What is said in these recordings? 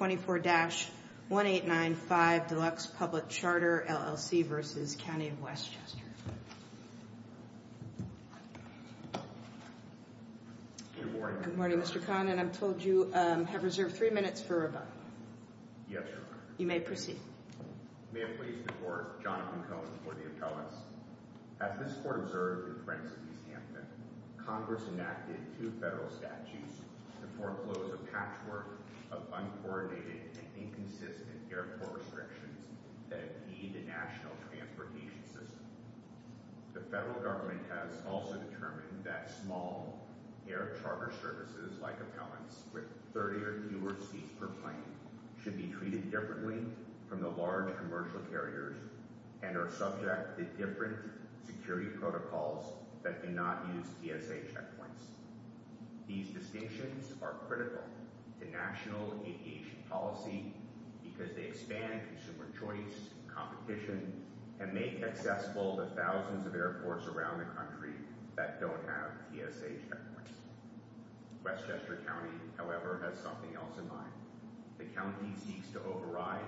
24-1895 Delux Public Charter, LLC v. County of Westchester As this Court observed in Prince v. Hampton, Congress enacted two federal statutes to foreclose a patchwork of uncoordinated and inconsistent airport restrictions that impede the national transportation system. The federal government has also determined that small air charter services like appellants with 30 or fewer seats per plane should be treated differently from the large commercial carriers and are subject to different security protocols that do not use TSA checkpoints. These distinctions are critical to national aviation policy because they expand consumer choice, competition, and make accessible the thousands of airports around the country that don't have TSA checkpoints. Westchester County, however, has something else in mind. The county seeks to override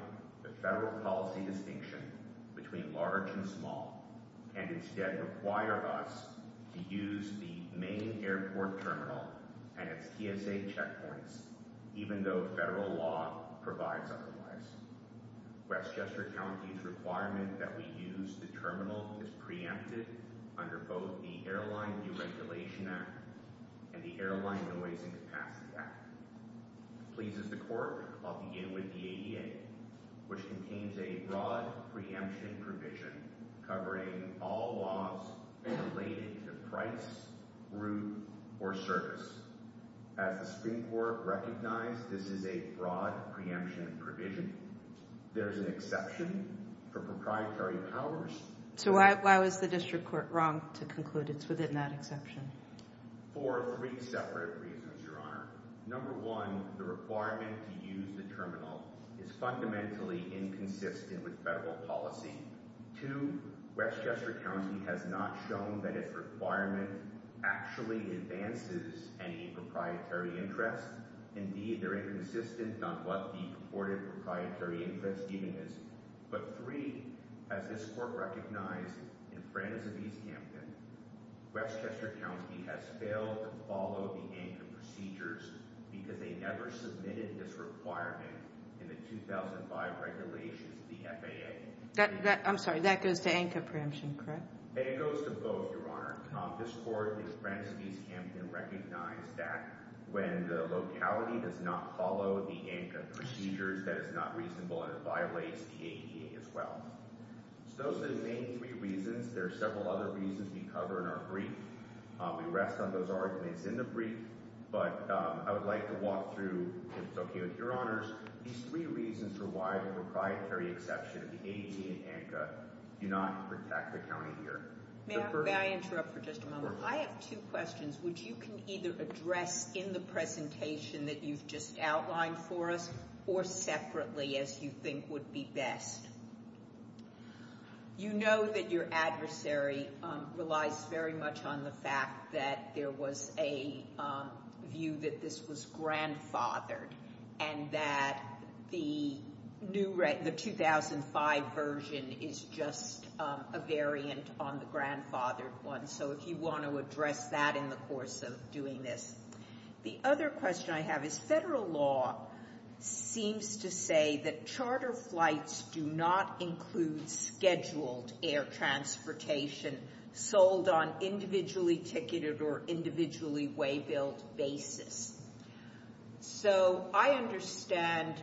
the federal policy distinction between large and small and instead require us to use the main airport terminal and its TSA checkpoints even though federal law provides otherwise. Westchester County's requirement that we use the terminal is preempted under both the Airline Deregulation Act and the Airline Noise and Capacity Act. As pleases the court, I'll begin with the ADA, which contains a broad preemption provision covering all laws related to price, route, or service. As the Supreme Court recognized, this is a broad preemption provision. There is an exception for proprietary powers. So why was the district court wrong to conclude it's within that exception? For three separate reasons, Your Honor. Number one, the requirement to use the terminal is fundamentally inconsistent with federal policy. Two, Westchester County has not shown that its requirement actually advances any proprietary interest. Indeed, they're inconsistent on what the purported proprietary interest even is. But three, as this court recognized in Francis of East Hampton, Westchester County has failed to follow the ANCA procedures because they never submitted this requirement in the 2005 regulations of the FAA. I'm sorry, that goes to ANCA preemption, correct? It goes to both, Your Honor. This court in Francis of East Hampton recognized that when the locality does not follow the ANCA procedures, that is not reasonable and it violates the ADA as well. So those are the main three reasons. There are several other reasons we cover in our brief. We rest on those arguments in the brief. But I would like to walk through, if it's okay with Your Honors, these three reasons for why the proprietary exception of the ADA and ANCA do not protect the county here. May I interrupt for just a moment? I have two questions, which you can either address in the presentation that you've just outlined for us or separately, as you think would be best. You know that your adversary relies very much on the fact that there was a view that this was grandfathered and that the 2005 version is just a variant on the grandfathered one. So if you want to address that in the course of doing this. The other question I have is federal law seems to say that charter flights do not include scheduled air transportation sold on individually ticketed or individually way-built basis. So I understand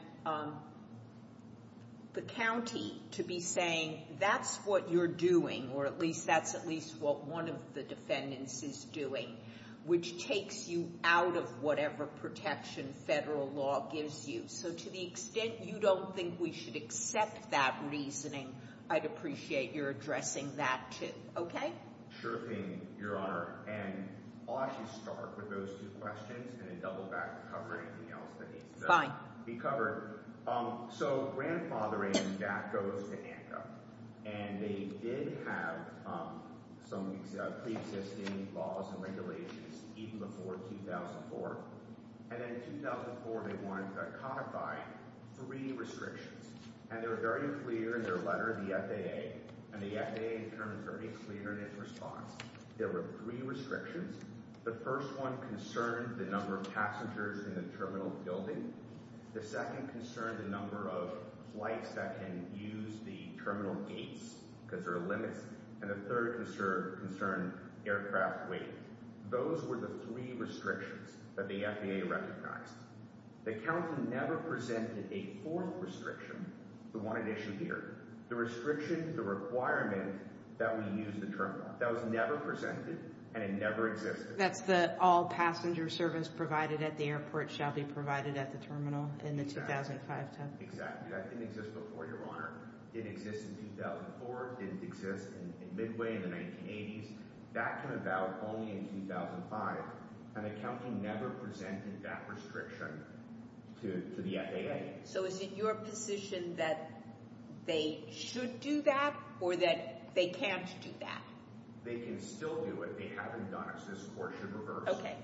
the county to be saying that's what you're doing, or at least that's at least what one of the defendants is doing, which takes you out of whatever protection federal law gives you. So to the extent you don't think we should accept that reasoning, I'd appreciate your addressing that too. Okay? Sure thing, Your Honor. And I'll actually start with those two questions and then double back and cover anything else that needs to be covered. So grandfathering, that goes to ANCA. And they did have some pre-existing laws and regulations even before 2004. And then in 2004 they wanted to codify three restrictions. And they were very clear in their letter to the FAA, and the FAA determined very clearly in its response there were three restrictions. The first one concerned the number of passengers in the terminal building. The second concerned the number of flights that can use the terminal gates because there are limits. And the third concerned aircraft weight. Those were the three restrictions that the FAA recognized. The county never presented a fourth restriction, the one it issued here. The restriction, the requirement that we use the terminal, that was never presented and it never existed. That's that all passenger service provided at the airport shall be provided at the terminal in the 2005 term. Exactly. That didn't exist before, Your Honor. It didn't exist in 2004. It didn't exist in midway in the 1980s. That came about only in 2005, and the county never presented that restriction to the FAA. So is it your position that they should do that or that they can't do that? They can still do it. They haven't done it, so this court should reverse it. Okay.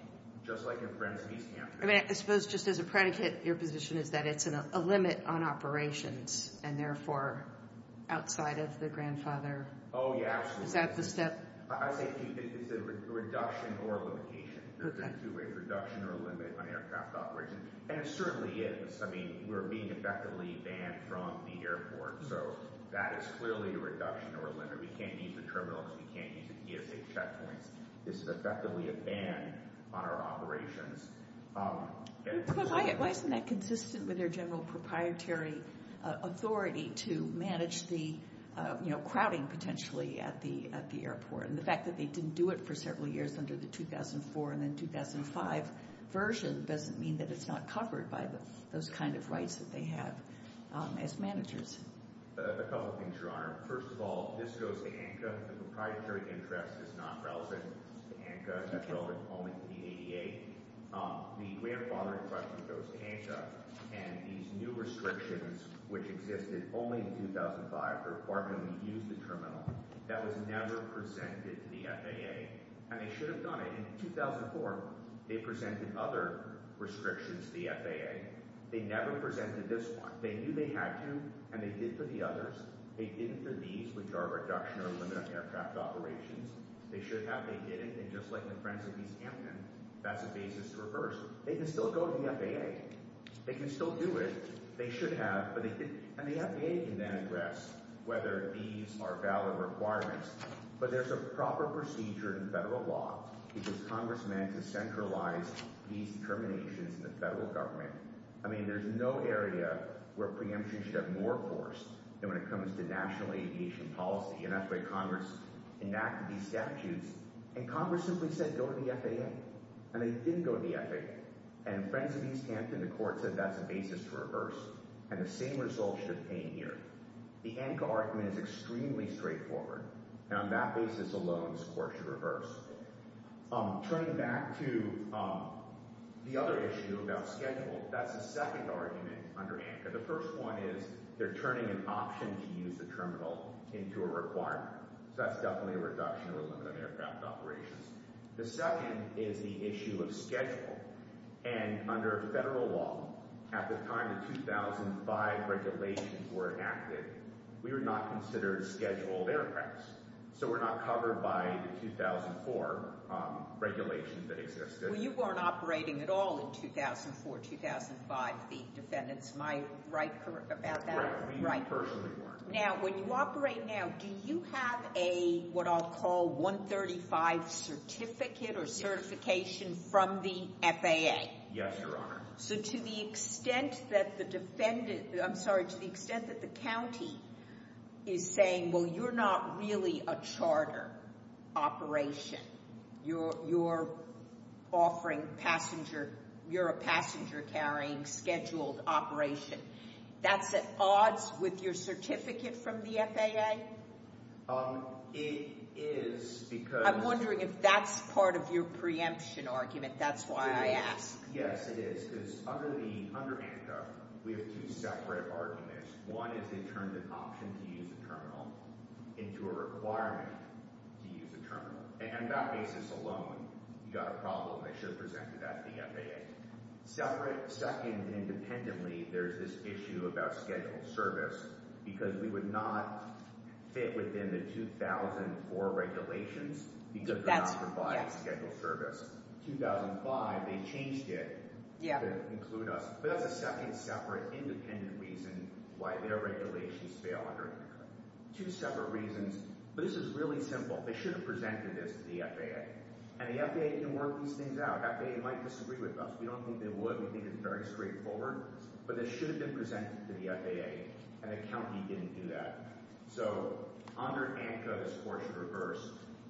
Just like in Frensley's campus. I mean, I suppose just as a predicate, your position is that it's a limit on operations and therefore outside of the grandfather. Oh, yeah, absolutely. Is that the step? I say it's a reduction or a limitation. Okay. It's a two-way reduction or a limit on aircraft operations, and it certainly is. I mean, we're being effectively banned from the airport, so that is clearly a reduction or a limit. We can't use the terminal because we can't use the ESA checkpoints. This is effectively a ban on our operations. But why isn't that consistent with their general proprietary authority to manage the crowding potentially at the airport? And the fact that they didn't do it for several years under the 2004 and then 2005 version doesn't mean that it's not covered by those kind of rights that they have as managers. A couple of things, Your Honor. First of all, this goes to ANCA. The proprietary interest is not relevant to ANCA. That's relevant only to the ADA. The grandfathering question goes to ANCA, and these new restrictions, which existed only in 2005, or when we used the terminal, that was never presented to the FAA. And they should have done it. In 2004, they presented other restrictions to the FAA. They never presented this one. They knew they had to, and they did for the others. They did it for these, which are reduction or a limit on aircraft operations. They should have. They didn't, and just like the Friends of East Hampton, that's a basis to reverse. They can still go to the FAA. They can still do it. They should have, but they didn't. And the FAA can then address whether these are valid requirements. But there's a proper procedure in federal law that gives congressmen to centralize these determinations in the federal government. I mean there's no area where preemption should have more force than when it comes to national aviation policy. And that's why congress enacted these statutes, and congress simply said go to the FAA. And they did go to the FAA. And Friends of East Hampton, the court said that's a basis to reverse, and the same result should obtain here. The ANCA argument is extremely straightforward, and on that basis alone, this court should reverse. Turning back to the other issue about schedule, that's a second argument under ANCA. The first one is they're turning an option to use the terminal into a requirement. So that's definitely a reduction or a limit on aircraft operations. The second is the issue of schedule. And under federal law, at the time the 2005 regulations were enacted, we were not considered scheduled aircrafts. So we're not covered by the 2004 regulations that existed. Well, you weren't operating at all in 2004, 2005, the defendants. Am I right about that? Right. We personally weren't. Now, when you operate now, do you have a, what I'll call 135 certificate or certification from the FAA? Yes, Your Honor. So to the extent that the defendant, I'm sorry, to the extent that the county is saying, well, you're not really a charter operation. You're offering passenger, you're a passenger-carrying scheduled operation. That's at odds with your certificate from the FAA? It is because— I'm wondering if that's part of your preemption argument. That's why I ask. Yes, it is, because under ANCA, we have two separate arguments. One is they turned an option to use a terminal into a requirement to use a terminal. And on that basis alone, you've got a problem that should have presented at the FAA. Separate, second, independently, there's this issue about scheduled service because we would not fit within the 2004 regulations because we're not providing scheduled service. 2005, they changed it to include us. But that's a second, separate, independent reason why their regulations fail under ANCA. Two separate reasons. But this is really simple. They should have presented this to the FAA. And the FAA can work these things out. The FAA might disagree with us. We don't think they would. We think it's very straightforward. But this should have been presented to the FAA, and the county didn't do that. So under ANCA, this court should reverse.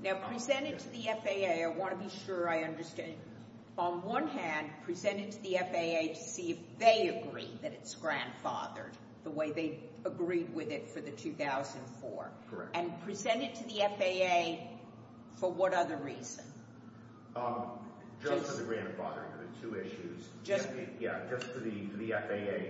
Now, present it to the FAA. I want to be sure I understand. On one hand, present it to the FAA to see if they agree that it's grandfathered the way they agreed with it for the 2004. Correct. And present it to the FAA for what other reason? Just for the grandfathering of the two issues. Yeah, just for the FAA.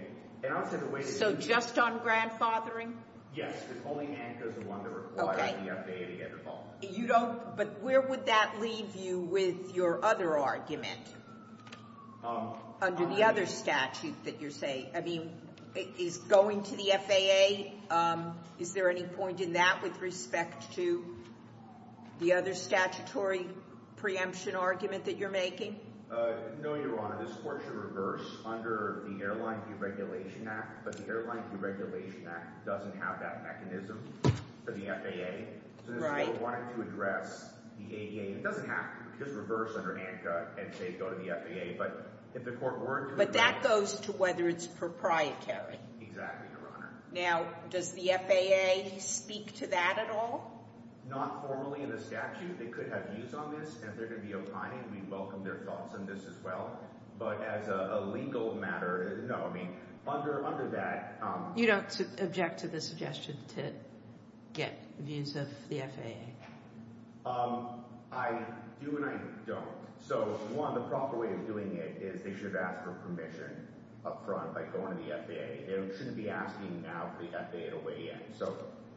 So just on grandfathering? Yes, because only ANCA is the one to require the FAA to get involved. But where would that leave you with your other argument under the other statute that you're saying? I mean, is going to the FAA? Is there any point in that with respect to the other statutory preemption argument that you're making? No, Your Honor. This court should reverse under the Airline Deregulation Act. But the Airline Deregulation Act doesn't have that mechanism for the FAA. Right. So this court wanted to address the ADA. It doesn't have to. Just reverse under ANCA and say go to the FAA. But if the court weren't doing that. But that goes to whether it's proprietary. Exactly, Your Honor. Now, does the FAA speak to that at all? Not formally in the statute. They could have views on this. And if they're going to be opining, we welcome their thoughts on this as well. But as a legal matter, no. I mean, under that. You don't object to the suggestion to get views of the FAA? I do and I don't. So, one, the proper way of doing it is they should ask for permission up front by going to the FAA. They shouldn't be asking now for the FAA to weigh in. So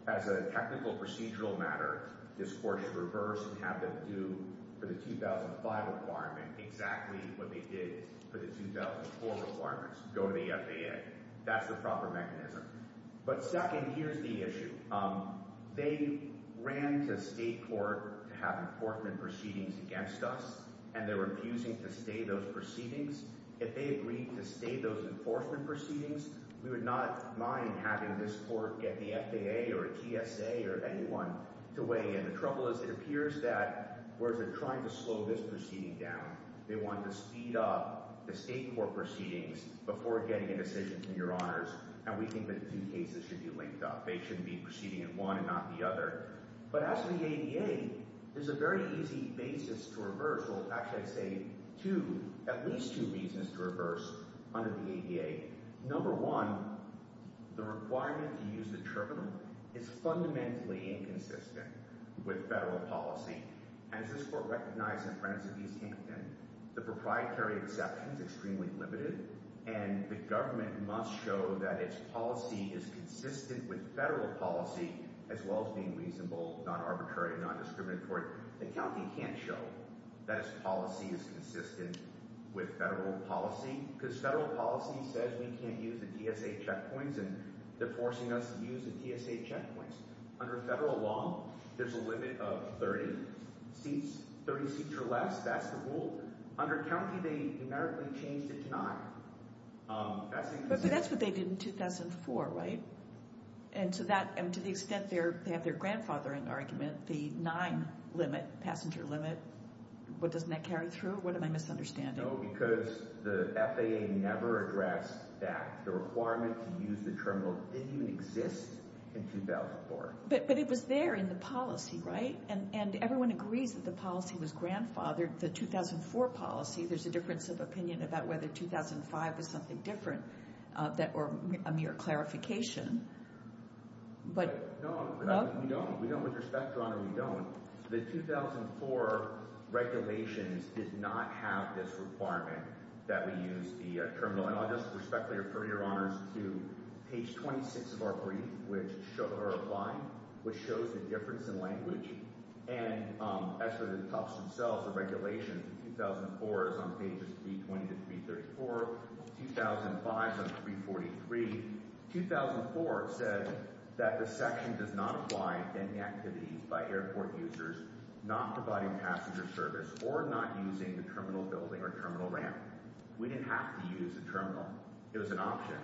as a technical procedural matter, this court should reverse and have them do for the 2005 requirement exactly what they did for the 2004 requirements, go to the FAA. That's the proper mechanism. But second, here's the issue. They ran to state court to have enforcement proceedings against us, and they're refusing to stay those proceedings. If they agreed to stay those enforcement proceedings, we would not mind having this court get the FAA or TSA or anyone to weigh in. The trouble is it appears that whereas they're trying to slow this proceeding down, they wanted to speed up the state court proceedings before getting a decision from your honors. And we think that the two cases should be linked up. They shouldn't be proceeding in one and not the other. But as for the ADA, there's a very easy basis to reverse. Well, actually, I'd say two, at least two reasons to reverse under the ADA. Number one, the requirement to use the tribunal is fundamentally inconsistent with federal policy. As this court recognized in the preface of East Hinton, the proprietary exception is extremely limited, and the government must show that its policy is consistent with federal policy as well as being reasonable, non-arbitrary, non-discriminatory. The county can't show that its policy is consistent with federal policy because federal policy says we can't use the TSA checkpoints, and they're forcing us to use the TSA checkpoints. Under federal law, there's a limit of 30 seats, 30 seats or less. That's the rule. Under county, they numerically changed it to nine. But that's what they did in 2004, right? And to the extent they have their grandfathering argument, the nine passenger limit, what doesn't that carry through? What am I misunderstanding? No, because the FAA never addressed that. The requirement to use the terminal didn't even exist in 2004. But it was there in the policy, right? And everyone agrees that the policy was grandfathered. Under the 2004 policy, there's a difference of opinion about whether 2005 is something different or a mere clarification. No, we don't. With respect, Your Honor, we don't. The 2004 regulations did not have this requirement that we use the terminal. And I'll just respectfully refer Your Honors to page 26 of our brief, which shows the difference in language. And as for the Tufts themselves, the regulations, 2004 is on pages 320 to 334. 2005 is on 343. 2004 said that the section does not apply to any activities by airport users not providing passenger service or not using the terminal building or terminal ramp. We didn't have to use the terminal. It was an option.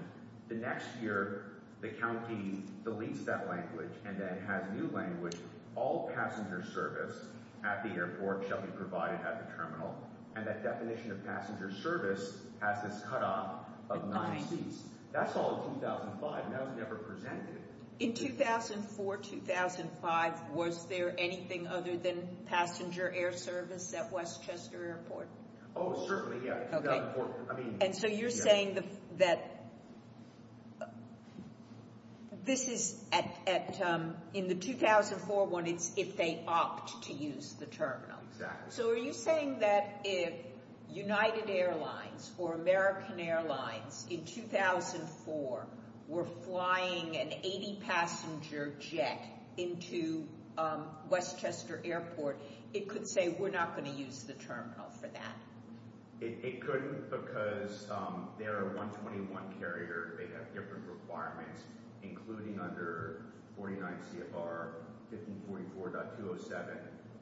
The next year, the county deletes that language and then has new language. All passenger service at the airport shall be provided at the terminal. And that definition of passenger service has this cutoff of million seats. That's all in 2005, and that was never presented. In 2004-2005, was there anything other than passenger air service at Westchester Airport? Oh, certainly, yeah, 2004. And so you're saying that this is in the 2004 one, it's if they opt to use the terminal. Exactly. So are you saying that if United Airlines or American Airlines in 2004 were flying an 80-passenger jet into Westchester Airport, it could say we're not going to use the terminal for that? It couldn't because they're a 121 carrier. They have different requirements, including under 49 CFR 1544.207.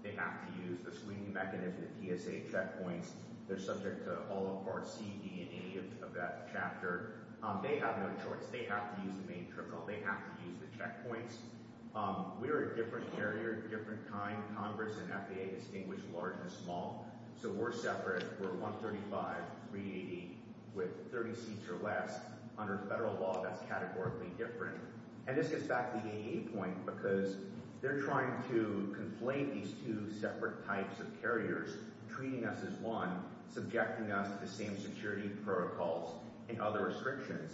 They have to use the screening mechanism, the PSA checkpoints. They're subject to all of Part C, E, and A of that chapter. They have no choice. They have to use the main terminal. They have to use the checkpoints. We're a different carrier, different time. Congress and FAA distinguish large and small, so we're separate. We're 135, 380 with 30 seats or less. Under federal law, that's categorically different. And this gets back to the AA point because they're trying to conflate these two separate types of carriers, treating us as one, subjecting us to the same security protocols in other restrictions,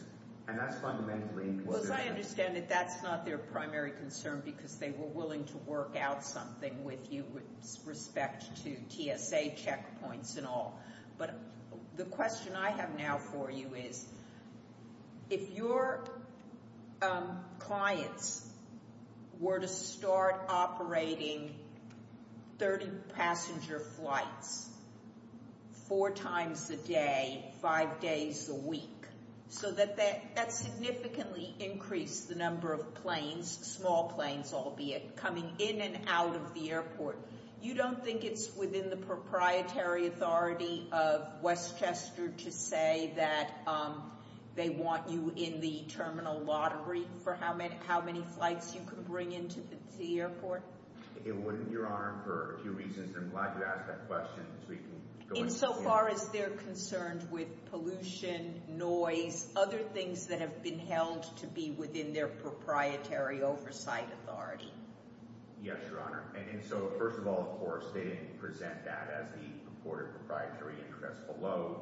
and that's fundamentally inconsistent. Well, as I understand it, that's not their primary concern because they were willing to work out something with you with respect to TSA checkpoints and all. But the question I have now for you is if your clients were to start operating 30 passenger flights four times a day, five days a week, so that that significantly increased the number of planes, small planes, albeit, coming in and out of the airport, you don't think it's within the proprietary authority of Westchester to say that they want you in the terminal lottery for how many flights you can bring into the airport? It wouldn't, Your Honor, for a few reasons. I'm glad you asked that question so we can go into it. Insofar as they're concerned with pollution, noise, other things that have been held to be within their proprietary oversight authority? Yes, Your Honor. And so, first of all, of course, they didn't present that as the purported proprietary interest below.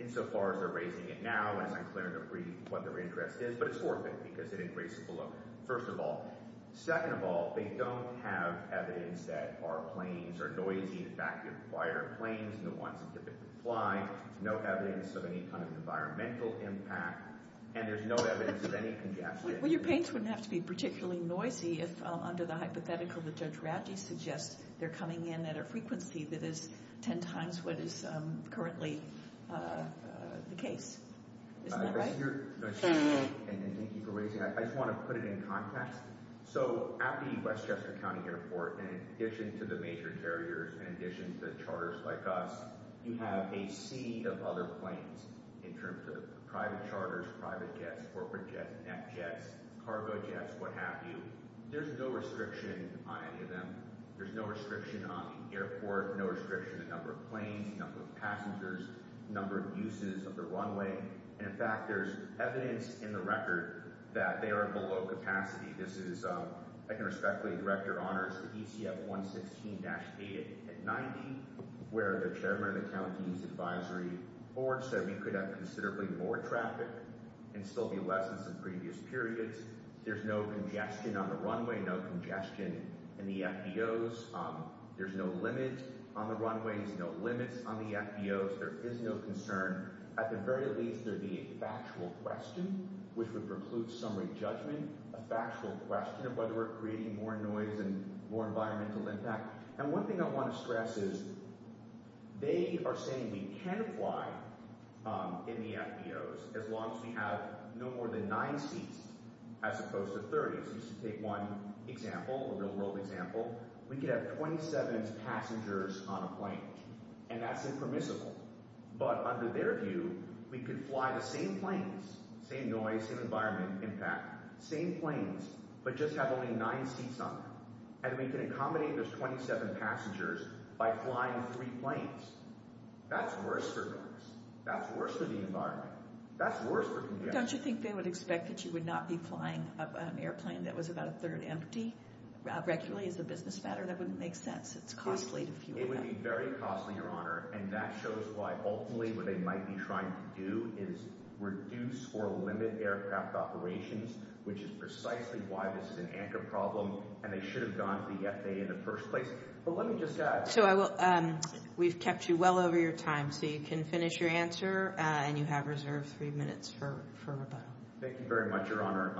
Insofar as they're raising it now, it's unclear to me what their interest is, but it's worth it because they didn't raise it below. First of all. Second of all, they don't have evidence that our planes are noisy. In fact, they're quieter planes than the ones that typically fly, no evidence of any kind of environmental impact, and there's no evidence of any congestion. Well, your planes wouldn't have to be particularly noisy if, under the hypothetical that Judge Radji suggests, they're coming in at a frequency that is ten times what is currently the case. Isn't that right? Your Honor, and thank you for raising it, I just want to put it in context. So, at the Westchester County Airport, in addition to the major carriers, in addition to charters like us, you have a sea of other planes in terms of private charters, private jets, corporate jets, net jets, cargo jets, what have you. There's no restriction on any of them. There's no restriction on the airport, no restriction on the number of planes, number of passengers, number of uses of the runway. And, in fact, there's evidence in the record that they are below capacity. This is, I can respectfully direct your honors, the ECF 116-8 at 90, where the chairman of the county's advisory board said we could have considerably more traffic and still be less than some previous periods. There's no congestion on the runway, no congestion in the FBOs. There's no limit on the runways, no limits on the FBOs. There is no concern. At the very least, there would be a factual question, which would preclude summary judgment, a factual question of whether we're creating more noise and more environmental impact. And one thing I want to stress is they are saying we can fly in the FBOs as long as we have no more than nine seats as opposed to 30. So just to take one example, a real-world example, we could have 27 passengers on a plane, and that's impermissible. But under their view, we could fly the same planes, same noise, same environment impact, same planes, but just have only nine seats on them. And we can accommodate those 27 passengers by flying three planes. That's worse for noise. That's worse for the environment. That's worse for congestion. Don't you think they would expect that you would not be flying an airplane that was about a third empty regularly as a business matter? That wouldn't make sense. It's costly to fuel that. It would be very costly, Your Honor, and that shows why ultimately what they might be trying to do is reduce or limit aircraft operations, which is precisely why this is an ANCA problem, and they should have gone to the FAA in the first place. But let me just add— So I will—we've kept you well over your time, so you can finish your answer, and you have reserved three minutes for rebuttal. Thank you very much, Your Honor.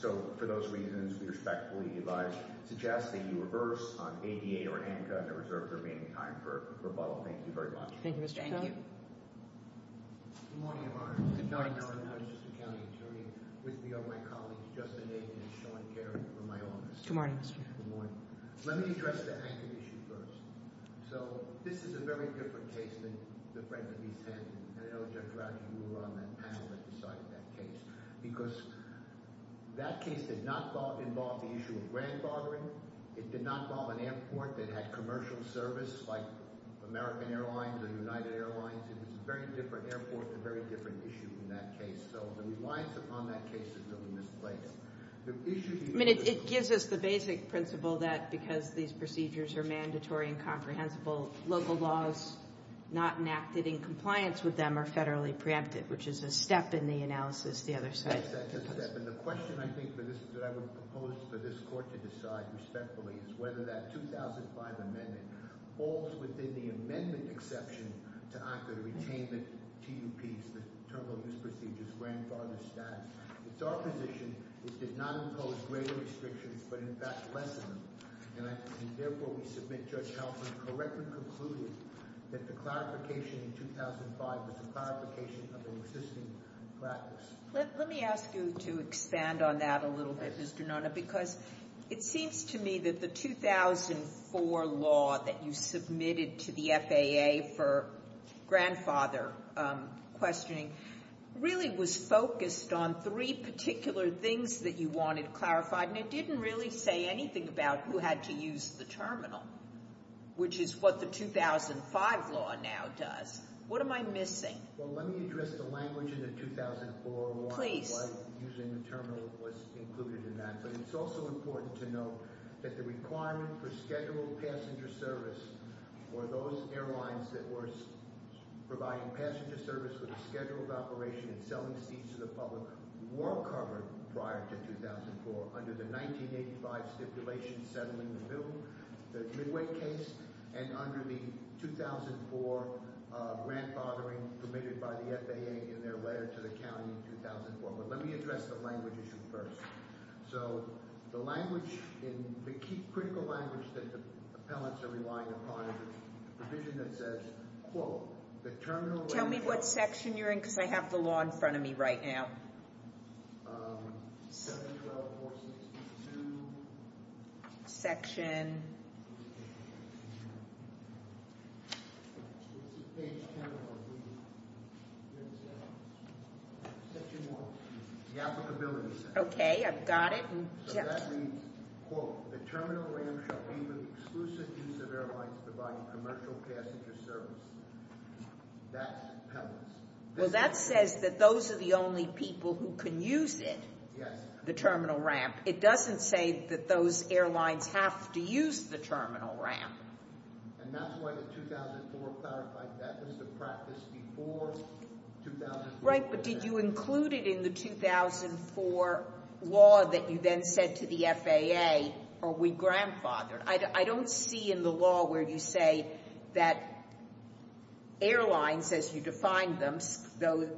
So for those reasons, we respectfully advise—suggest that you reverse on ADA or ANCA, and reserve the remaining time for rebuttal. Thank you very much. Thank you, Mr. Cohen. Thank you. Good morning, Your Honor. Good morning, Mr. Cohen. I'm just a county attorney with me are my colleagues, Justin Nathan and Sean Carey, from my office. Good morning, Mr. Cohen. Good morning. Let me address the ANCA issue first. So this is a very different case than the friend that we sent, and I know, Judge Rouse, you were on that panel that decided that case because that case did not involve the issue of grandfathering. It did not involve an airport that had commercial service like American Airlines or United Airlines. It was a very different airport with a very different issue in that case. So the reliance upon that case is really misplaced. I mean, it gives us the basic principle that because these procedures are mandatory and comprehensible, local laws not enacted in compliance with them are federally preempted, which is a step in the analysis the other side. That's a step. And the question, I think, for this—that I would propose for this Court to decide respectfully is whether that 2005 amendment falls within the amendment exception to ANCA to retain the TUPs, the Terminal Use Procedures, grandfather status. It's our position it did not impose greater restrictions but, in fact, less of them. And therefore, we submit Judge Kaufman correctly concluded that the clarification in 2005 was a clarification of an existing practice. Let me ask you to expand on that a little bit, Mr. Nona, because it seems to me that the 2004 law that you submitted to the FAA for grandfather questioning really was focused on three particular things that you wanted clarified, and it didn't really say anything about who had to use the terminal, which is what the 2005 law now does. What am I missing? Well, let me address the language in the 2004 law— —using the terminal was included in that, but it's also important to note that the requirement for scheduled passenger service or those airlines that were providing passenger service with a scheduled operation and selling seats to the public were covered prior to 2004 under the 1985 stipulation settling the bill, the Midway case, and under the 2004 grandfathering permitted by the FAA in their letter to the county in 2004. But let me address the language issue first. So the language, the critical language that the appellants are relying upon is a provision that says, quote, the terminal— Tell me what section you're in because I have the law in front of me right now. 712.462. Section? The applicability section. Okay, I've got it. Well, that says that those are the only people who can use it, the terminal ramp. It doesn't say that those airlines have to use the terminal ramp. And that's why the 2004 clarified that as the practice before 2004. Right, but did you include it in the 2004 law that you then said to the FAA, are we grandfathered? I don't see in the law where you say that airlines, as you defined them, those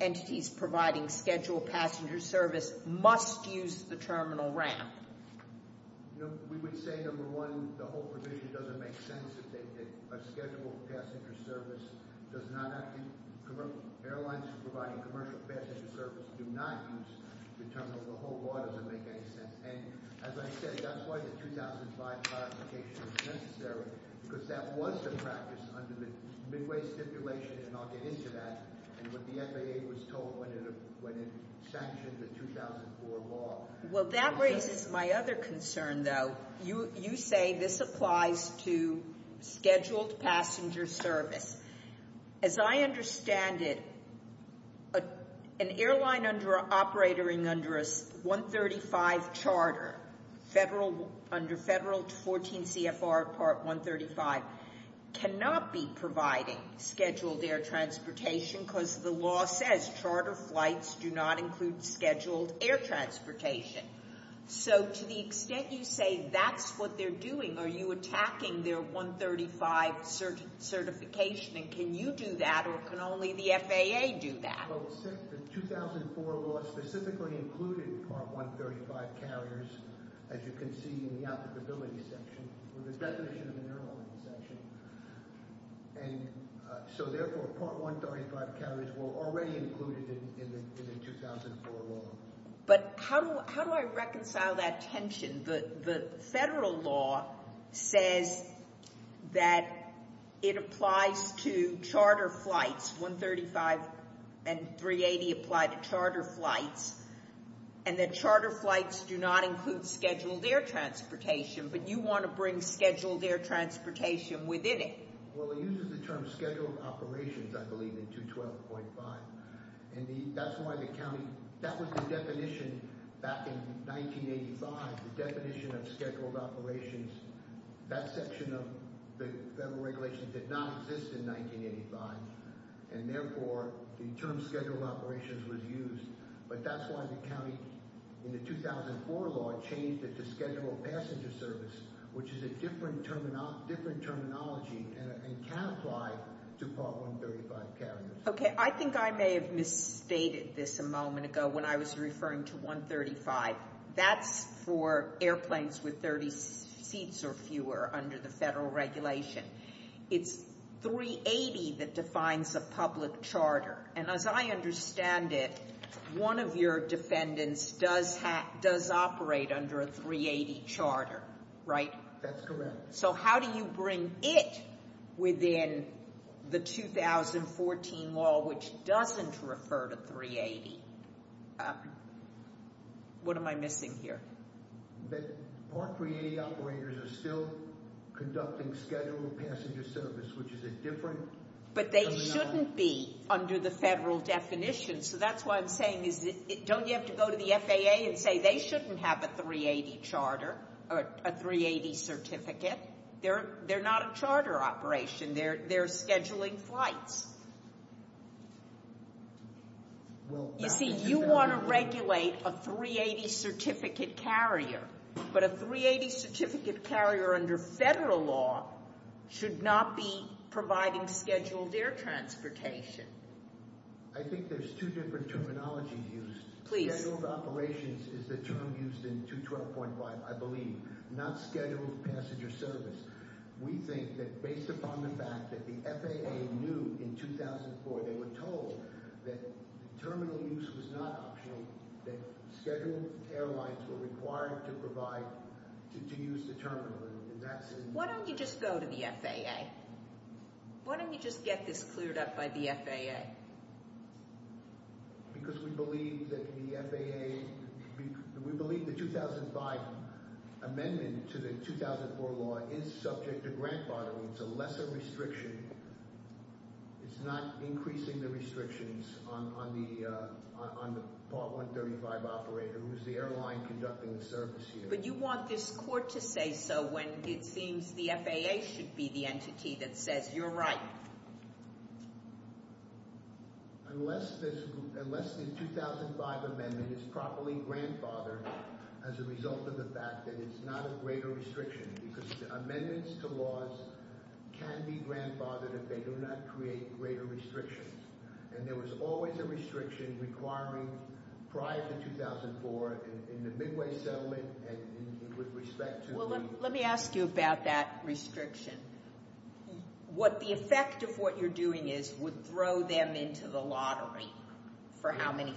entities providing scheduled passenger service must use the terminal ramp. We would say, number one, the whole provision doesn't make sense. A scheduled passenger service does not actually— airlines providing commercial passenger service do not use the terminal. The whole law doesn't make any sense. And as I said, that's why the 2005 clarification was necessary, because that was the practice under the Midway stipulation, and I'll get into that, and what the FAA was told when it sanctioned the 2004 law. Well, that raises my other concern, though. You say this applies to scheduled passenger service. As I understand it, an airline operating under a 135 charter, under Federal 14 CFR Part 135, cannot be providing scheduled air transportation because the law says charter flights do not include scheduled air transportation. So to the extent you say that's what they're doing, are you attacking their 135 certification, and can you do that, or can only the FAA do that? Well, the 2004 law specifically included Part 135 carriers, as you can see in the applicability section, or the definition of an airline section. And so, therefore, Part 135 carriers were already included in the 2004 law. But how do I reconcile that tension? The Federal law says that it applies to charter flights. 135 and 380 apply to charter flights, and that charter flights do not include scheduled air transportation, but you want to bring scheduled air transportation within it. Well, it uses the term scheduled operations, I believe, in 212.5. That was the definition back in 1985, the definition of scheduled operations. That section of the Federal regulations did not exist in 1985, and, therefore, the term scheduled operations was used. But that's why the county, in the 2004 law, changed it to scheduled passenger service, which is a different terminology and can apply to Part 135 carriers. Okay, I think I may have misstated this a moment ago when I was referring to 135. That's for airplanes with 30 seats or fewer under the Federal regulation. It's 380 that defines a public charter. And as I understand it, one of your defendants does operate under a 380 charter, right? That's correct. So how do you bring it within the 2014 law, which doesn't refer to 380? What am I missing here? Part 380 operators are still conducting scheduled passenger service, which is a different terminology. But they shouldn't be under the Federal definition, so that's why I'm saying, don't you have to go to the FAA and say they shouldn't have a 380 charter or a 380 certificate? They're not a charter operation. They're scheduling flights. You see, you want to regulate a 380 certificate carrier, but a 380 certificate carrier under Federal law should not be providing scheduled air transportation. I think there's two different terminologies used. Scheduled operations is the term used in 212.5, I believe, not scheduled passenger service. We think that based upon the fact that the FAA knew in 2004, they were told that terminal use was not optional, that scheduled airlines were required to provide, to use the terminal. Why don't you just go to the FAA? Why don't you just get this cleared up by the FAA? Because we believe that the FAA, we believe the 2005 amendment to the 2004 law is subject to grant borrowing. It's a lesser restriction. It's not increasing the restrictions on the part 135 operator, who's the airline conducting the service here. But you want this court to say so when it seems the FAA should be the entity that says you're right. Unless the 2005 amendment is properly grandfathered as a result of the fact that it's not a greater restriction, because amendments to laws can be grandfathered if they do not create greater restrictions. And there was always a restriction requiring prior to 2004 in the Midway Settlement with respect to the— Well, let me ask you about that restriction. What the effect of what you're doing is would throw them into the lottery for how many—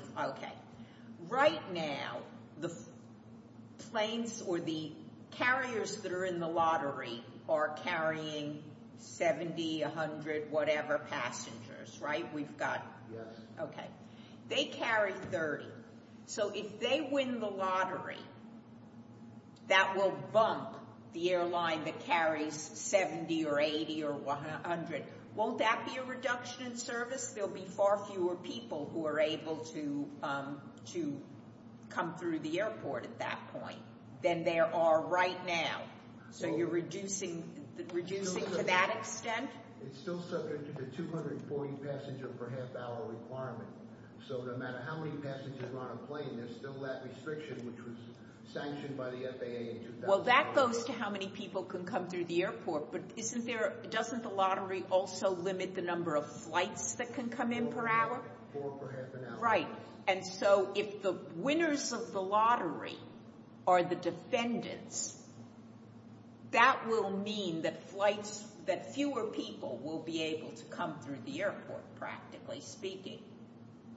Right now, the planes or the carriers that are in the lottery are carrying 70, 100 whatever passengers, right? We've got— Okay. They carry 30. So if they win the lottery, that will bump the airline that carries 70 or 80 or 100. Won't that be a reduction in service? There'll be far fewer people who are able to come through the airport at that point than there are right now. So you're reducing to that extent? It's still subject to the 240-passenger-per-half-hour requirement. So no matter how many passengers are on a plane, there's still that restriction, which was sanctioned by the FAA in 2005. Well, that goes to how many people can come through the airport. But isn't there—doesn't the lottery also limit the number of flights that can come in per hour? Four per half an hour. Right. And so if the winners of the lottery are the defendants, that will mean that flights—that fewer people will be able to come through the airport, practically speaking.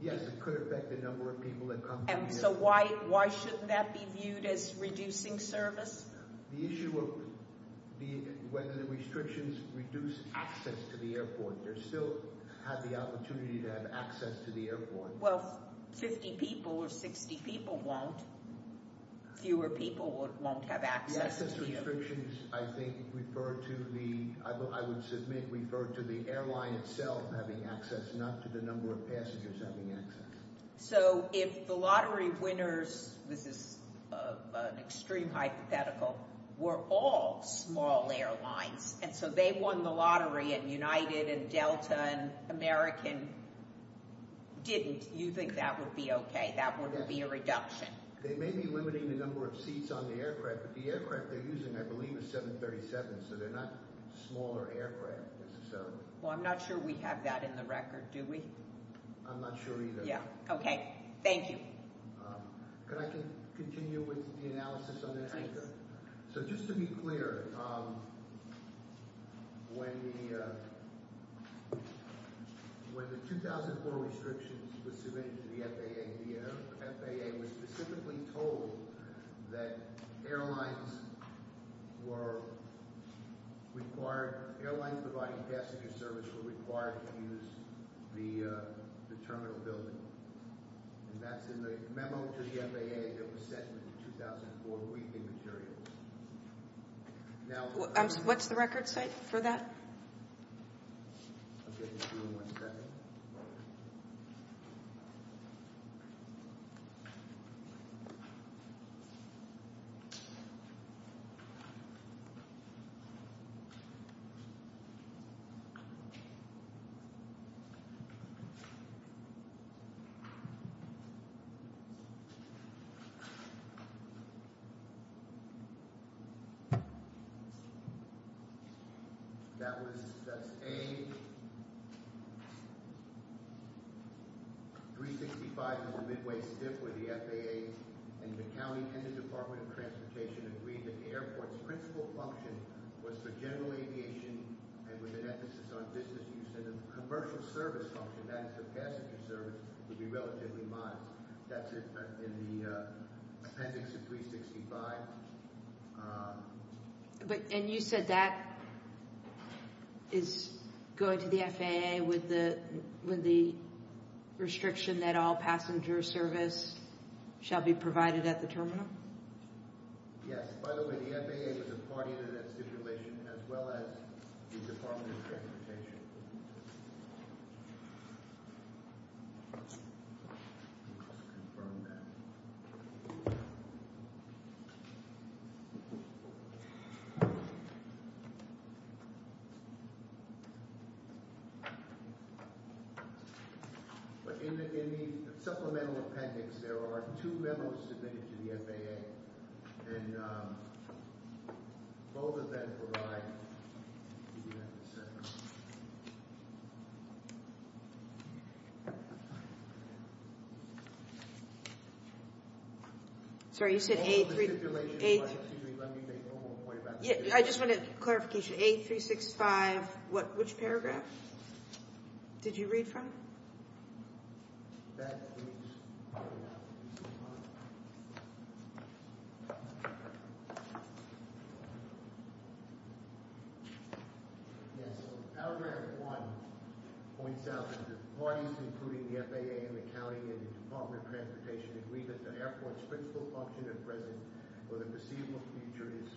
Yes, it could affect the number of people that come through the airport. And so why shouldn't that be viewed as reducing service? The issue of whether the restrictions reduce access to the airport. They still have the opportunity to have access to the airport. Well, 50 people or 60 people won't. Fewer people won't have access to you. Access restrictions, I think, refer to the—I would submit refer to the airline itself having access, not to the number of passengers having access. So if the lottery winners—this is an extreme hypothetical—were all small airlines, and so they won the lottery and United and Delta and American didn't, you think that would be okay? That would be a reduction? They may be limiting the number of seats on the aircraft, but the aircraft they're using, I believe, is 737, so they're not smaller aircraft, necessarily. Well, I'm not sure we have that in the record, do we? I'm not sure either. Yeah, okay. Thank you. Could I continue with the analysis on that? Sure. And that's in the memo to the FAA that was sent in 2004 briefing materials. Now— What's the record site for that? I'll get to you in one second. That was—that's A—365 was a midway stiff with the FAA, and the county and the Department of Transportation agreed that the airport's principal function was for general aviation and with an emphasis on business use. And the commercial service function, that is the passenger service, would be relatively modest. That's in the appendix of 365. But—and you said that is going to the FAA with the restriction that all passenger service shall be provided at the terminal? Yes. By the way, the FAA was a party to that stipulation, as well as the Department of Transportation. Confirm that. But in the supplemental appendix, there are two memos submitted to the FAA, and both of them provide— I'll give you that in a second. Sorry, you said A— All the stipulations, let me make one more point about the stipulation. I just wanted clarification. A365, what—which paragraph did you read from? That is A365. Yes, so paragraph 1 points out that the parties, including the FAA and the county and the Department of Transportation, agreed that the airport's principal function at present or the foreseeable future is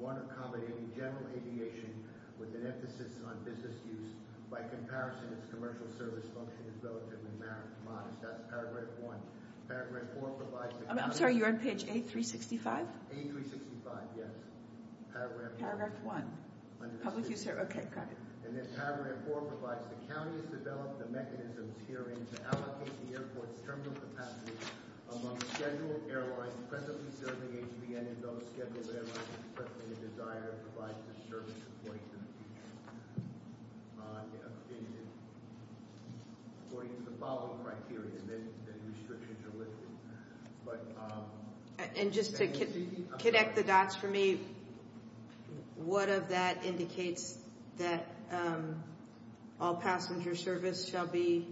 one accommodating general aviation with an emphasis on business use. By comparison, its commercial service function is relatively modest. That's paragraph 1. Paragraph 4 provides— I'm sorry, you're on page A365? A365, yes. Paragraph 1. Public use—okay, got it. And then paragraph 4 provides, the county has developed the mechanisms herein to allocate the airport's terminal capacity among scheduled airlines presently serving HVN and those scheduled airlines presently in desire to provide the service according to the future. According to the following criteria, then the restrictions are lifted. And just to connect the dots for me, what of that indicates that all passenger service shall be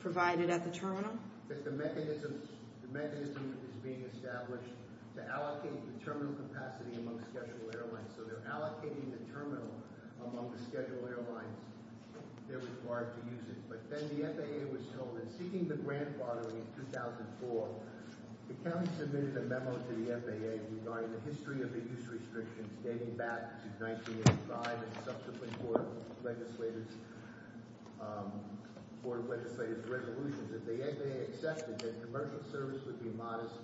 provided at the terminal? That the mechanism is being established to allocate the terminal capacity among scheduled airlines. So they're allocating the terminal among the scheduled airlines. They're required to use it. But then the FAA was told that seeking the grandfathering in 2004, the county submitted a memo to the FAA regarding the history of the use restrictions dating back to 1985 and subsequent Board of Legislators resolutions. The FAA accepted that commercial service would be modest,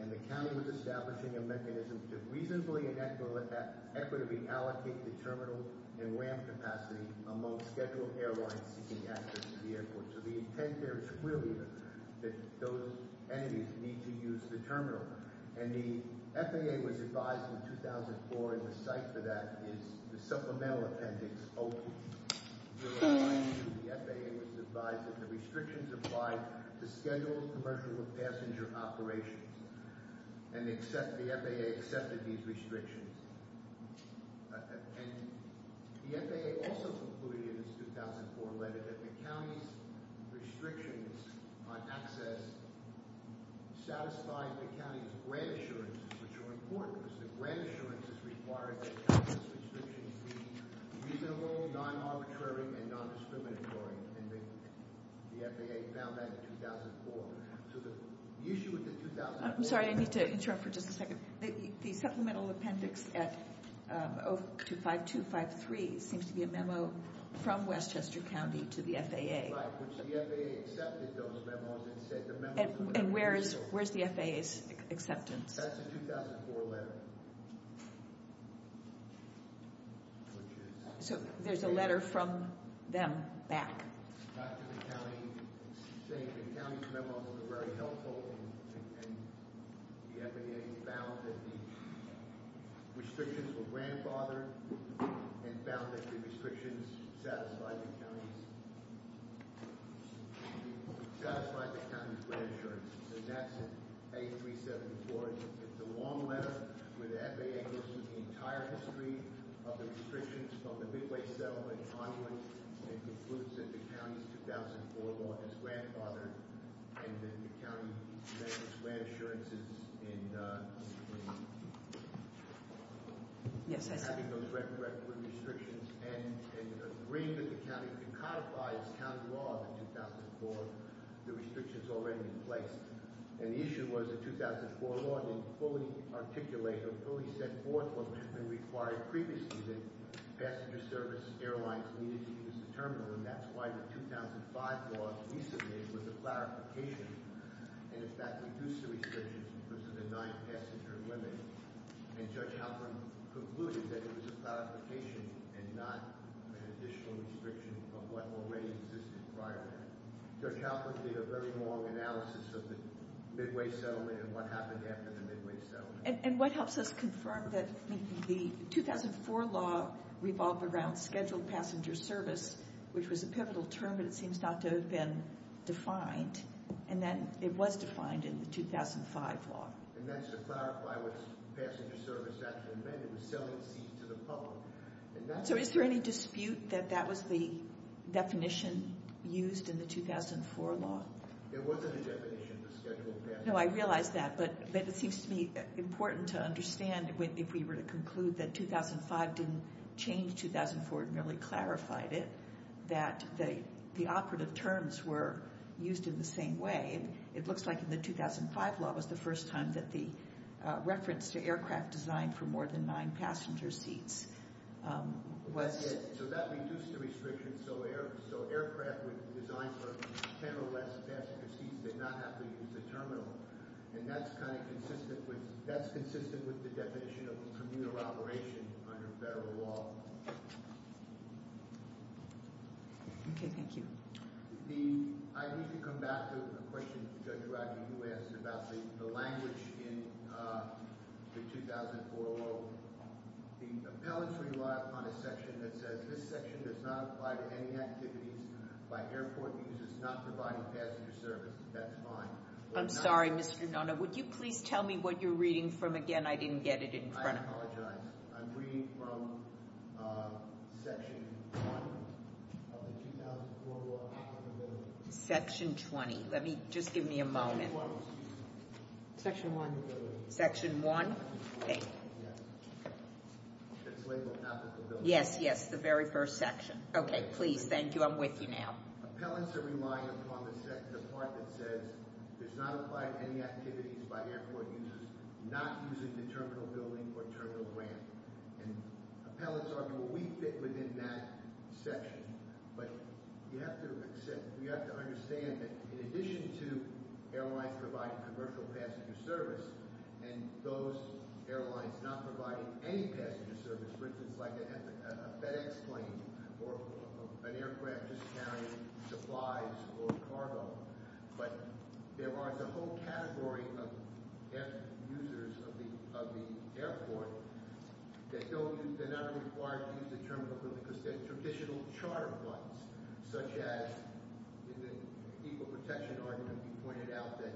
and the county was establishing a mechanism to reasonably and equitably allocate the terminal and ramp capacity among scheduled airlines seeking access to the airport. So the intent there is clearly that those entities need to use the terminal. And the FAA was advised in 2004, and the site for that is the Supplemental Appendix O2. The FAA was advised that the restrictions apply to scheduled commercial and passenger operations. And the FAA accepted these restrictions. And the FAA also concluded in its 2004 letter that the county's restrictions on access satisfied the county's grant assurances, which are important. Because the grant assurances require that county's restrictions be reasonable, non-arbitrary, and non-discriminatory. And the FAA found that in 2004. I'm sorry, I need to interrupt for just a second. The Supplemental Appendix at 025253 seems to be a memo from Westchester County to the FAA. And where is the FAA's acceptance? So there's a letter from them back. Very helpful. And the FAA found that the restrictions were grandfathered and found that the restrictions satisfied the county's grant assurances. And that's A374. It's a long letter where the FAA goes through the entire history of the restrictions from the Midway settlement onward. And concludes that the county's 2004 law is grandfathered. And that the county met its grant assurances in having those record restrictions. And agreed that the county could codify its county law in 2004. The restrictions already in place. And the issue was the 2004 law didn't fully articulate or fully set forth what had been required previously. That passenger service airlines needed to use the terminal. And that's why the 2005 law we submitted was a clarification. And in fact reduced the restrictions because of the nine passenger limits. And Judge Halpern concluded that it was a clarification and not an additional restriction of what already existed prior to that. Judge Halpern did a very long analysis of the Midway settlement and what happened after the Midway settlement. And what helps us confirm that the 2004 law revolved around scheduled passenger service. Which was a pivotal term but it seems not to have been defined. And then it was defined in the 2005 law. And that's to clarify what passenger service actually meant. It was selling seats to the public. So is there any dispute that that was the definition used in the 2004 law? No, I realize that. But it seems to me important to understand if we were to conclude that 2005 didn't change 2004. It merely clarified it. That the operative terms were used in the same way. It looks like in the 2005 law was the first time that the reference to aircraft designed for more than nine passenger seats. So that reduced the restrictions so aircraft designed for ten or less passenger seats did not have to use the terminal. And that's kind of consistent with the definition of communal operation under federal law. Okay, thank you. I need to come back to a question Judge Rodney asked about the language in the 2004 law. The appellants rely upon a section that says this section does not apply to any activities by airport users not providing passenger service. That's fine. I'm sorry, Mr. Nona. Would you please tell me what you're reading from again? I didn't get it in front of me. I apologize. I'm reading from section one of the 2004 law. Section 20. Let me, just give me a moment. Section one. Section one? Okay. Yes, yes, the very first section. Okay, please, thank you. I'm with you now. Appellants are relying upon the part that says there's not applied to any activities by airport users not using the terminal building or terminal ramp. And appellants argue we fit within that section. But you have to accept, you have to understand that in addition to airlines providing commercial passenger service, and those airlines not providing any passenger service, for instance, like a FedEx plane or an aircraft just carrying supplies or cargo, but there is a whole category of users of the airport that they're not required to use the terminal building because they're traditional charter flights, such as in the equal protection argument, you pointed out that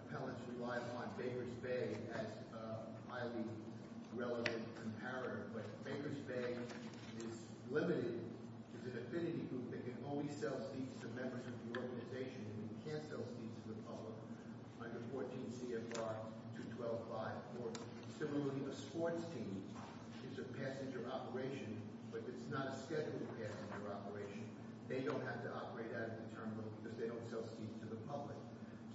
appellants rely upon Baker's Bay as a highly relevant comparator. But Baker's Bay is limited. It's an affinity group that can only sell seats to members of the organization and can't sell seats to the public under 14 CFR 212.5. Similarly, a sports team is a passenger operation, but it's not a scheduled passenger operation. They don't have to operate out of the terminal because they don't sell seats to the public.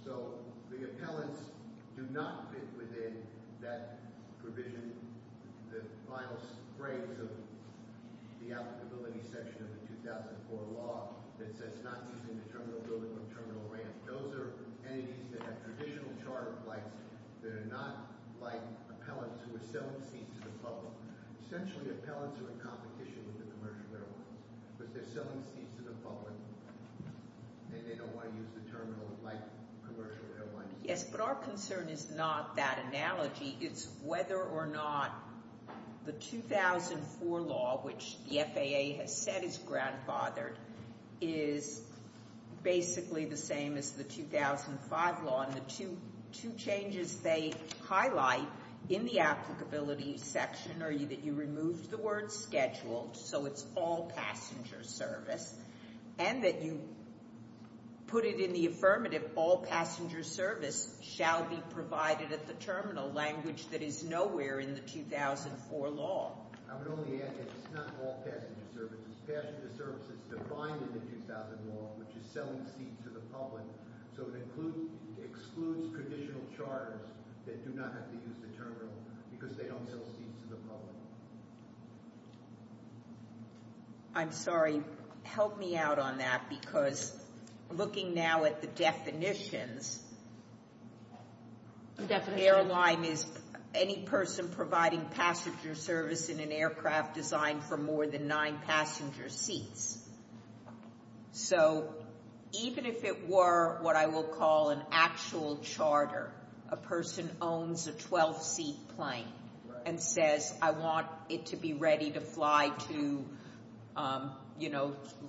So the appellants do not fit within that provision, the final phrase of the applicability section of the 2004 law that says not using the terminal building or terminal ramp. Those are entities that have traditional charter flights that are not like appellants who are selling seats to the public. Essentially, appellants are in competition with the commercial airlines because they're selling seats to the public and they don't want to use the terminal like commercial airlines. Yes, but our concern is not that analogy. It's whether or not the 2004 law, which the FAA has said is grandfathered, is basically the same as the 2005 law. The two changes they highlight in the applicability section are that you removed the word scheduled, so it's all passenger service, and that you put it in the affirmative, all passenger service shall be provided at the terminal, language that is nowhere in the 2004 law. I would only add that it's not all passenger service. It's passenger service that's defined in the 2004 law, which is selling seats to the public, so it excludes traditional charters that do not have to use the terminal because they don't sell seats to the public. I'm sorry. Help me out on that because looking now at the definitions, airline is any person providing passenger service in an aircraft designed for more than nine passenger seats. So even if it were what I will call an actual charter, a person owns a 12-seat plane and says, I want it to be ready to fly to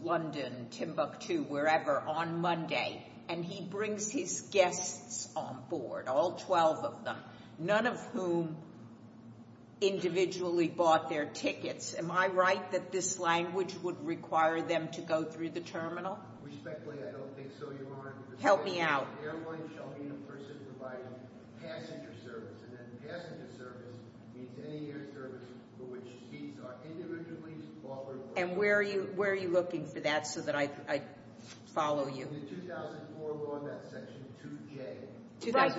London, Timbuktu, wherever on Monday, and he brings his guests on board, all 12 of them, none of whom individually bought their tickets, am I right that this language would require them to go through the terminal? Respectfully, I don't think so, Your Honor. Help me out. The airline shall be a person providing passenger service, and then passenger service means any air service for which seats are individually offered. And where are you looking for that so that I follow you? In the 2004 law, that section 2J. Right,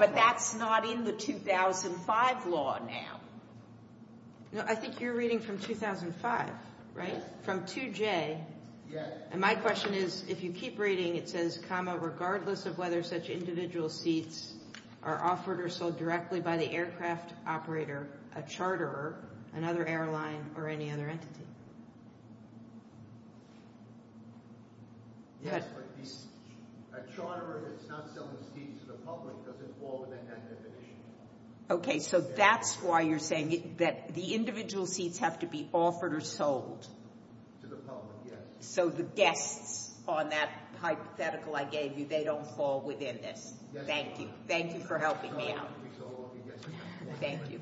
but that's not in the 2005 law now. No, I think you're reading from 2005, right, from 2J. And my question is, if you keep reading, it says, comma, regardless of whether such individual seats are offered or sold directly by the aircraft operator, a charter, another airline, or any other entity. Yes, but a charter that's not selling seats to the public doesn't fall within that definition. Okay, so that's why you're saying that the individual seats have to be offered or sold. To the public, yes. So the guests on that hypothetical I gave you, they don't fall within this. Yes, Your Honor. Thank you. Thank you for helping me out. Thank you.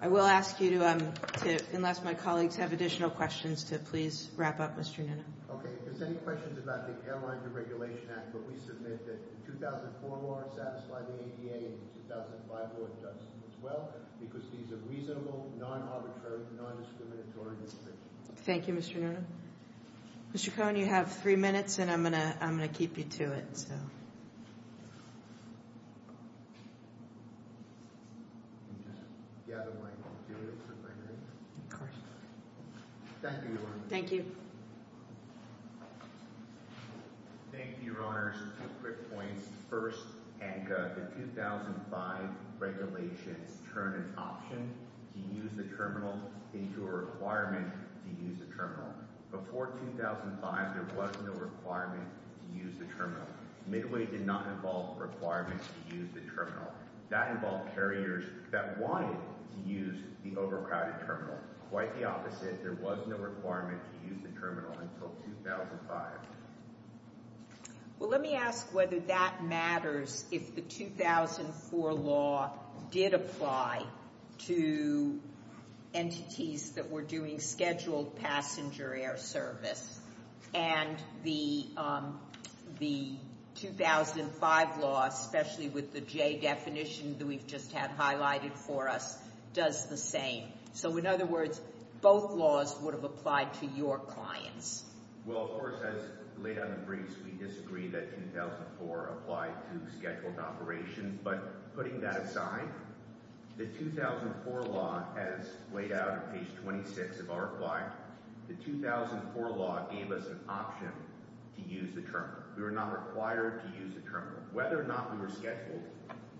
I will ask you to, unless my colleagues have additional questions, to please wrap up, Mr. Nunez. Okay, if there's any questions about the Airline Deregulation Act, but we submit that the 2004 law satisfied the ADA and the 2005 law does as well, because these are reasonable, non-arbitrary, non-discriminatory restrictions. Thank you, Mr. Nunez. Mr. Cohn, you have three minutes, and I'm going to keep you to it. The other one, you want to do it? Of course. Thank you, Your Honor. Thank you. Thank you, Your Honor. Two quick points. First, Annika, the 2005 regulations turn an option to use the terminal into a requirement to use the terminal. Before 2005, there was no requirement to use the terminal. Midway did not involve requirements to use the terminal. That involved carriers that wanted to use the overcrowded terminal. Quite the opposite, there was no requirement to use the terminal until 2005. Well, let me ask whether that matters if the 2004 law did apply to entities that were doing scheduled passenger air service. And the 2005 law, especially with the J definition that we've just had highlighted for us, does the same. So in other words, both laws would have applied to your clients. Well, of course, as laid out in the briefs, we disagree that 2004 applied to scheduled operations, but putting that aside, the 2004 law, as laid out on page 26 of our reply, the 2004 law gave us an option to use the terminal. We were not required to use the terminal. Whether or not we were scheduled,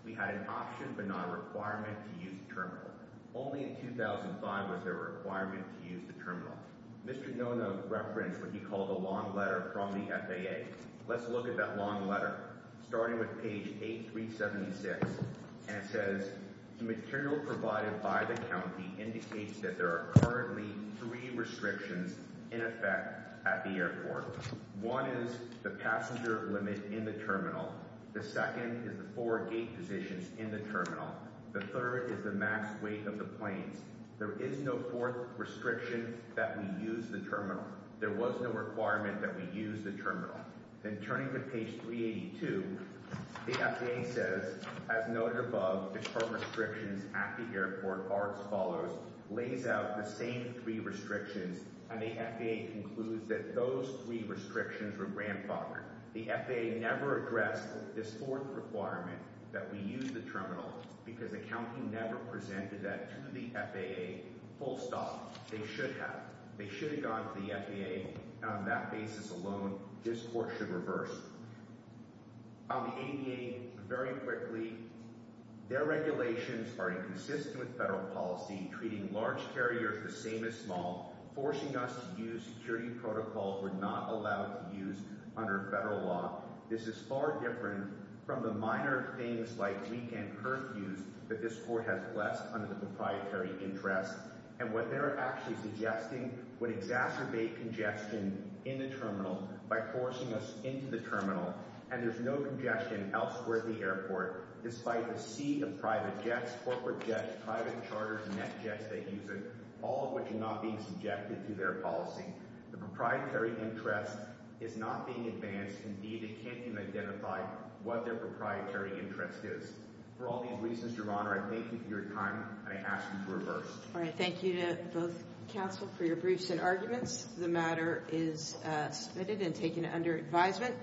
we had an option but not a requirement to use the terminal. Only in 2005 was there a requirement to use the terminal. Mr. Nona referenced what he called a long letter from the FAA. Let's look at that long letter, starting with page 8376. And it says, the material provided by the county indicates that there are currently three restrictions in effect at the airport. One is the passenger limit in the terminal. The second is the four gate positions in the terminal. The third is the max weight of the planes. There is no fourth restriction that we use the terminal. There was no requirement that we use the terminal. Then turning to page 382, the FAA says, as noted above, the four restrictions at the airport are as follows. Lays out the same three restrictions, and the FAA concludes that those three restrictions were grandfathered. The FAA never addressed this fourth requirement that we use the terminal because the county never presented that to the FAA full stop. They should have. They should have gone to the FAA. And on that basis alone, this court should reverse. On the ADA, very quickly, their regulations are inconsistent with federal policy, treating large carriers the same as small, forcing us to use security protocols we're not allowed to use under federal law. This is far different from the minor things like weekend curfews that this court has blessed under the proprietary interest. And what they're actually suggesting would exacerbate congestion in the terminal by forcing us into the terminal. And there's no congestion elsewhere at the airport, despite the sea of private jets, corporate jets, private charters, net jets they use it, all of which are not being subjected to their policy. The proprietary interest is not being advanced. Indeed, it can't even identify what their proprietary interest is. For all these reasons, Your Honor, I thank you for your time, and I ask you to reverse. All right. Thank you to both counsel for your briefs and arguments. The matter is submitted and taken under advisement.